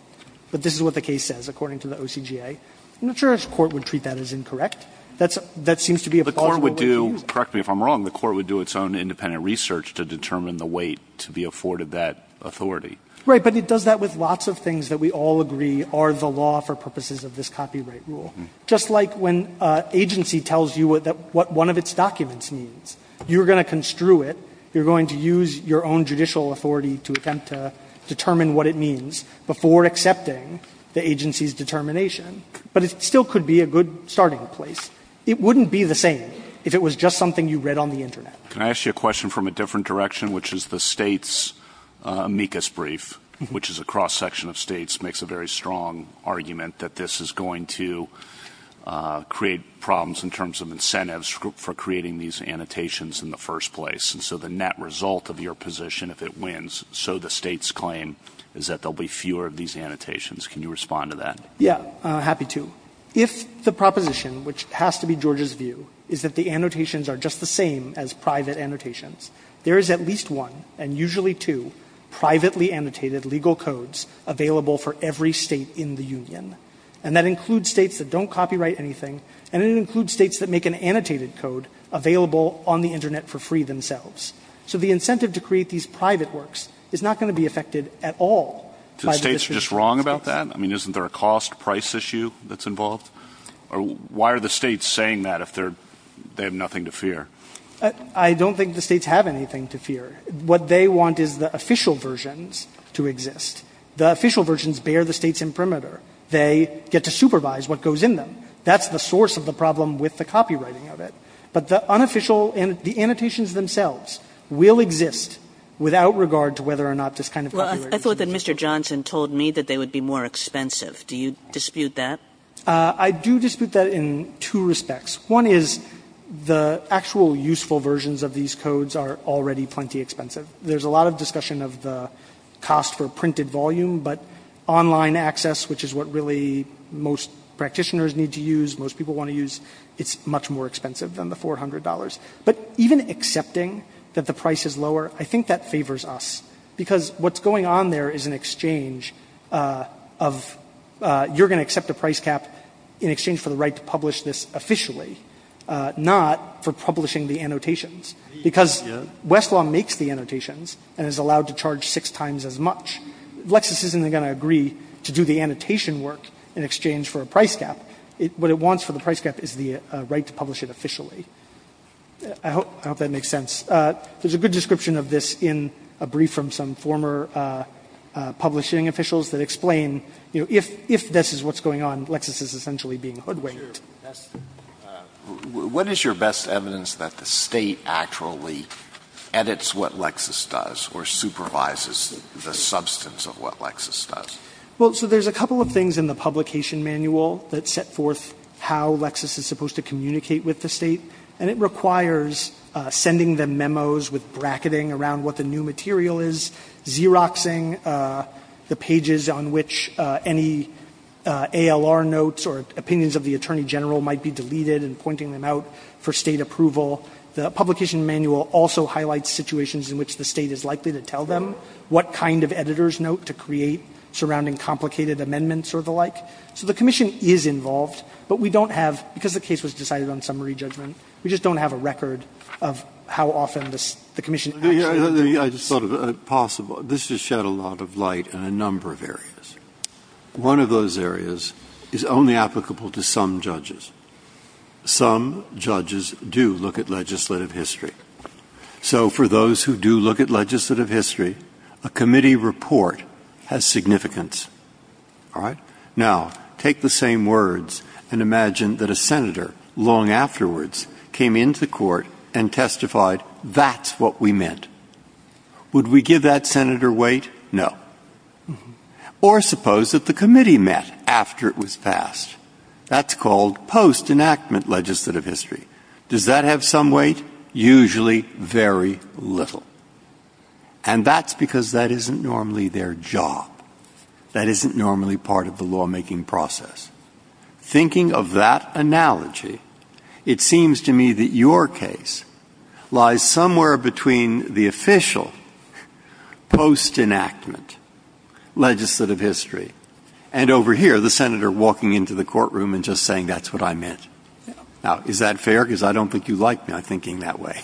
this is what the case says according to the OCGA. I'm not sure a court would treat that as incorrect. That seems to be a plausible way to use it. The court would do, correct me if I'm wrong, the court would do its own independent research to determine the weight to be afforded that authority. Right. But it does that with lots of things that we all agree are the law for purposes of this copyright rule. Just like when an agency tells you what one of its documents means, you're going to construe it, you're going to use your own judicial authority to attempt to determine what it means before accepting the agency's determination. But it still could be a good starting place. It wouldn't be the same if it was just something you read on the Internet. Can I ask you a question from a different direction, which is the States' amicus brief, which is a cross-section of States, makes a very strong argument that this is going to create problems in terms of incentives for creating these annotations in the first place. And so the net result of your position, if it wins, so the States' claim, is that there will be fewer of these annotations. Can you respond to that? Yeah. Happy to. If the proposition, which has to be Georgia's view, is that the annotations are just the same as private annotations, there is at least one, and usually two, privately annotated legal codes available for every State in the union. And that includes States that don't copyright anything, and it includes States that make an annotated code available on the Internet for free themselves. So the incentive to create these private works is not going to be affected at all by the decision of the States. So the States are just wrong about that? I mean, isn't there a cost-price issue that's involved? Or why are the States saying that if they have nothing to fear? I don't think the States have anything to fear. What they want is the official versions to exist. The official versions bear the States in perimeter. They get to supervise what goes in them. That's the source of the problem with the copywriting of it. But the unofficial and the annotations themselves will exist without regard to whether or not this kind of copywriting is going to exist. Well, I thought that Mr. Johnson told me that they would be more expensive. Do you dispute that? I do dispute that in two respects. One is the actual useful versions of these codes are already plenty expensive. There's a lot of discussion of the cost for printed volume, but online access, which is what really most practitioners need to use, most people want to use, it's much more expensive than the $400. But even accepting that the price is lower, I think that favors us. Because what's going on there is an exchange of you're going to accept a price cap in exchange for the right to publish this officially, not for publishing the annotations. Because Westlaw makes the annotations and is allowed to charge six times as much. Lexis isn't going to agree to do the annotation work in exchange for a price cap. What it wants for the price cap is the right to publish it officially. I hope that makes sense. There's a good description of this in a brief from some former publishing officials that explain, you know, if this is what's going on, Lexis is essentially being hoodwinked. Alito, what is your best evidence that the State actually edits what Lexis does or supervises the substance of what Lexis does? Well, so there's a couple of things in the publication manual that set forth how Lexis is supposed to communicate with the State, and it requires sending them memos with bracketing around what the new material is, Xeroxing the pages on which any ALR notes or opinions of the Attorney General might be deleted and pointing them out for State approval. The publication manual also highlights situations in which the State is likely to tell them what kind of editor's note to create surrounding complicated amendments or the like. So the Commission is involved, but we don't have, because the case was decided on summary judgment, we just don't have a record of how often the Commission actually edits. I just thought it possible. This has shed a lot of light in a number of areas. One of those areas is only applicable to some judges. Some judges do look at legislative history. So for those who do look at legislative history, a committee report has significance. All right? Now, take the same words and imagine that a senator long afterwards came into court and testified, that's what we meant. Would we give that senator weight? No. Or suppose that the committee met after it was passed. That's called post-enactment legislative history. Does that have some weight? Usually very little. And that's because that isn't normally their job. That isn't normally part of the lawmaking process. Thinking of that analogy, it seems to me that your case lies somewhere between the official post-enactment legislative history and over here the senator walking into the courtroom and just saying that's what I meant. Now, is that fair? Because I don't think you like my thinking that way.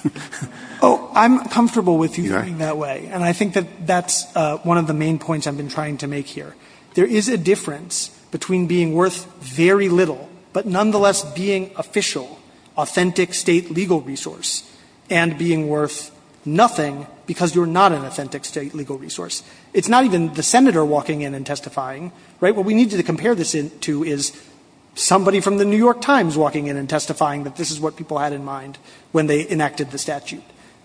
Oh, I'm comfortable with you thinking that way. And I think that that's one of the main points I've been trying to make here. There is a difference between being worth very little, but nonetheless being official, authentic State legal resource, and being worth nothing because you're not an authentic State legal resource. It's not even the senator walking in and testifying, right? What we need to compare this to is somebody from the New York Times walking in and testifying that this is what people had in mind when they enacted the statute.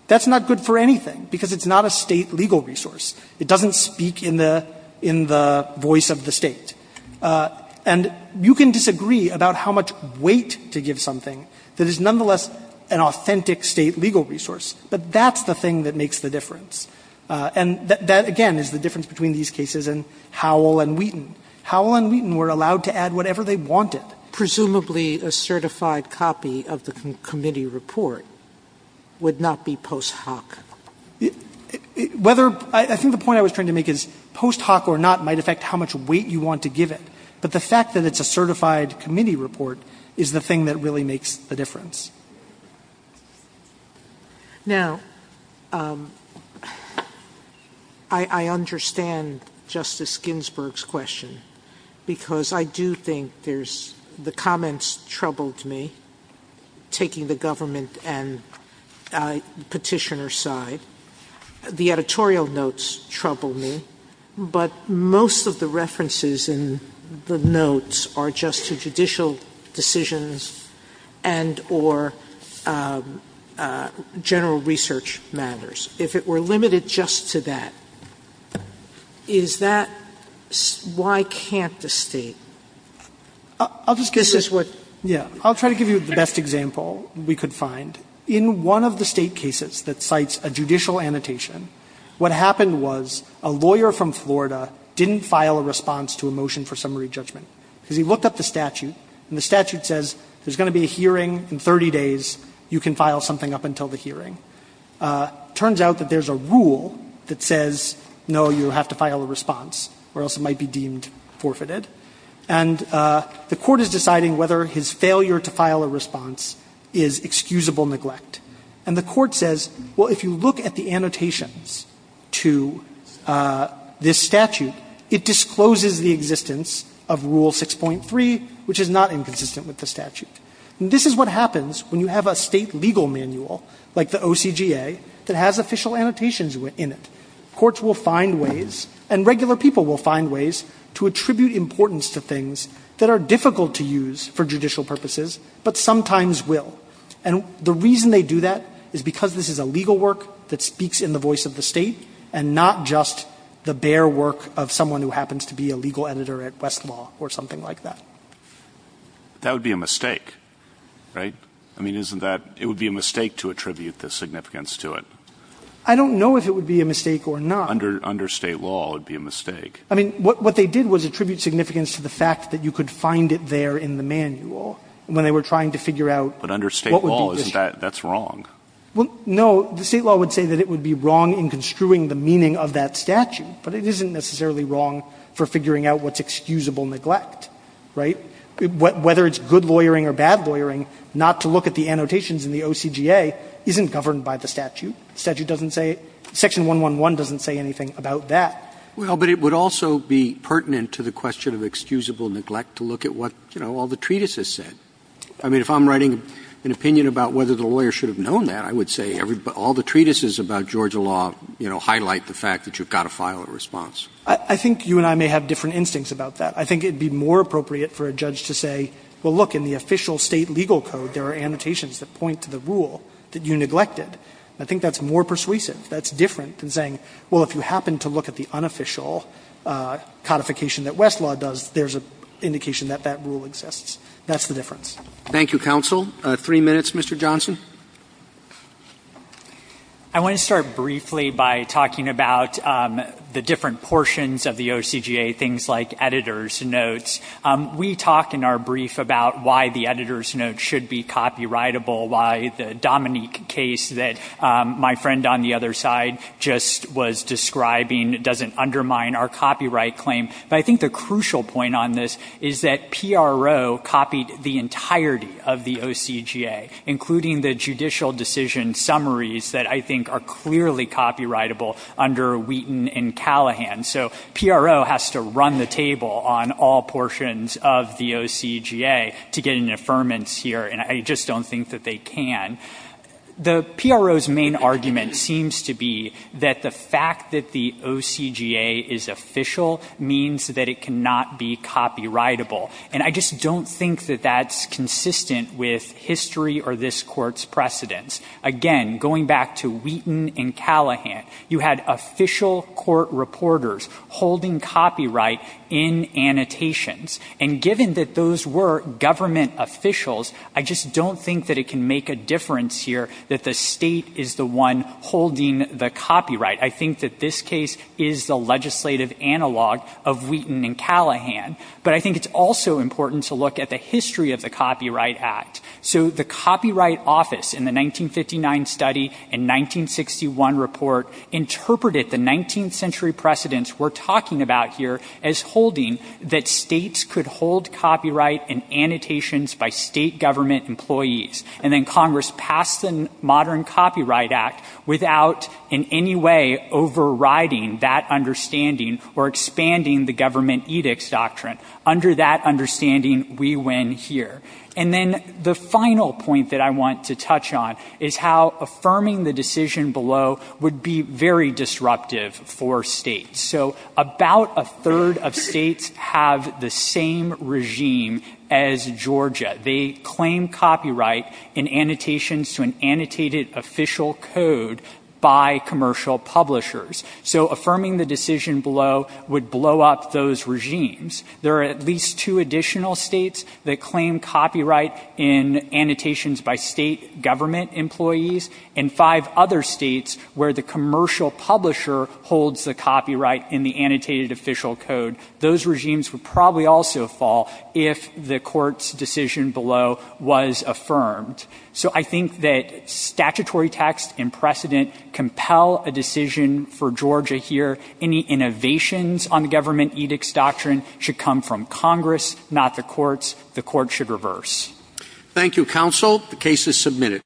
That's not good for anything because it's not a State legal resource. It doesn't speak in the voice of the State. And you can disagree about how much weight to give something that is nonetheless an authentic State legal resource. But that's the thing that makes the difference. And that, again, is the difference between these cases and Howell and Wheaton. Howell and Wheaton were allowed to add whatever they wanted. Presumably a certified copy of the committee report would not be post hoc. Whether – I think the point I was trying to make is post hoc or not might affect how much weight you want to give it. But the fact that it's a certified committee report is the thing that really makes the SOTOMAYOR Now, I understand Justice Ginsburg's question because I do think there's – the comments troubled me, taking the government and petitioner's side. The editorial notes troubled me. But most of the references in the notes are just to judicial decisions and or general research matters. If it were limited just to that, is that – why can't the State? This is what – I'll just give you – yeah. I'll try to give you the best example we could find. In one of the State cases that cites a judicial annotation, what happened was a lawyer from Florida didn't file a response to a motion for summary judgment because he looked up the statute and the statute says there's going to be a hearing in 30 days. You can file something up until the hearing. It turns out that there's a rule that says, no, you have to file a response or else it might be deemed forfeited. And the Court is deciding whether his failure to file a response is excusable neglect. And the Court says, well, if you look at the annotations to this statute, it discloses the existence of Rule 6.3, which is not inconsistent with the statute. And this is what happens when you have a State legal manual, like the OCGA, that has official annotations in it. Courts will find ways, and regular people will find ways, to attribute importance to things that are difficult to use for judicial purposes, but sometimes will. And the reason they do that is because this is a legal work that speaks in the voice of the State and not just the bare work of someone who happens to be a legal editor at Westlaw or something like that. That would be a mistake, right? I mean, isn't that – it would be a mistake to attribute the significance to it. I don't know if it would be a mistake or not. Under State law, it would be a mistake. I mean, what they did was attribute significance to the fact that you could find it there in the manual when they were trying to figure out. But under State law, isn't that – that's wrong. Well, no. The State law would say that it would be wrong in construing the meaning of that statute, but it isn't necessarily wrong for figuring out what's excusable neglect, right? Whether it's good lawyering or bad lawyering, not to look at the annotations in the OCGA isn't governed by the statute. The statute doesn't say – Section 111 doesn't say anything about that. Well, but it would also be pertinent to the question of excusable neglect to look at what, you know, all the treatises said. I mean, if I'm writing an opinion about whether the lawyer should have known that, I would say all the treatises about Georgia law, you know, highlight the fact that you've got to file a response. I think you and I may have different instincts about that. I think it would be more appropriate for a judge to say, well, look, in the official State legal code, there are annotations that point to the rule that you neglected. I think that's more persuasive. That's different than saying, well, if you happen to look at the unofficial codification that Westlaw does, there's an indication that that rule exists. That's the difference. Roberts. Thank you, counsel. Three minutes, Mr. Johnson. I want to start briefly by talking about the different portions of the OCGA, things like editor's notes. We talk in our brief about why the editor's note should be copyrightable, why the Dominique case that my friend on the other side just was describing doesn't undermine our copyright claim. But I think the crucial point on this is that PRO copied the entirety of the OCGA, including the judicial decision summaries that I think are clearly copyrightable under Wheaton and Callahan. So PRO has to run the table on all portions of the OCGA to get an affirmance here, and I just don't think that they can. The PRO's main argument seems to be that the fact that the OCGA is official means that it cannot be copyrightable, and I just don't think that that's consistent with history or this Court's precedents. Again, going back to Wheaton and Callahan, you had official court reporters holding copyright in annotations. And given that those were government officials, I just don't think that it can make a difference here that the State is the one holding the copyright. I think that this case is the legislative analog of Wheaton and Callahan. But I think it's also important to look at the history of the Copyright Act. So the Copyright Office in the 1959 study and 1961 report interpreted the 19th century precedents we're talking about here as holding that States could hold copyright in annotations by State government employees. And then Congress passed the modern Copyright Act without in any way overriding that understanding or expanding the government edicts doctrine. Under that understanding, we win here. And then the final point that I want to touch on is how affirming the decision below would be very disruptive for States. So about a third of States have the same regime as Georgia. They claim copyright in annotations to an annotated official code by commercial publishers. So affirming the decision below would blow up those regimes. There are at least two additional States that claim copyright in annotations by State government employees, and five other States where the commercial publisher holds the copyright in the annotated official code. Those regimes would probably also fall if the Court's decision below was affirmed. So I think that statutory text and precedent compel a decision for Georgia here. Any innovations on the government edicts doctrine should come from Congress, not the courts. The court should reverse. Roberts. Thank you, counsel. The case is submitted.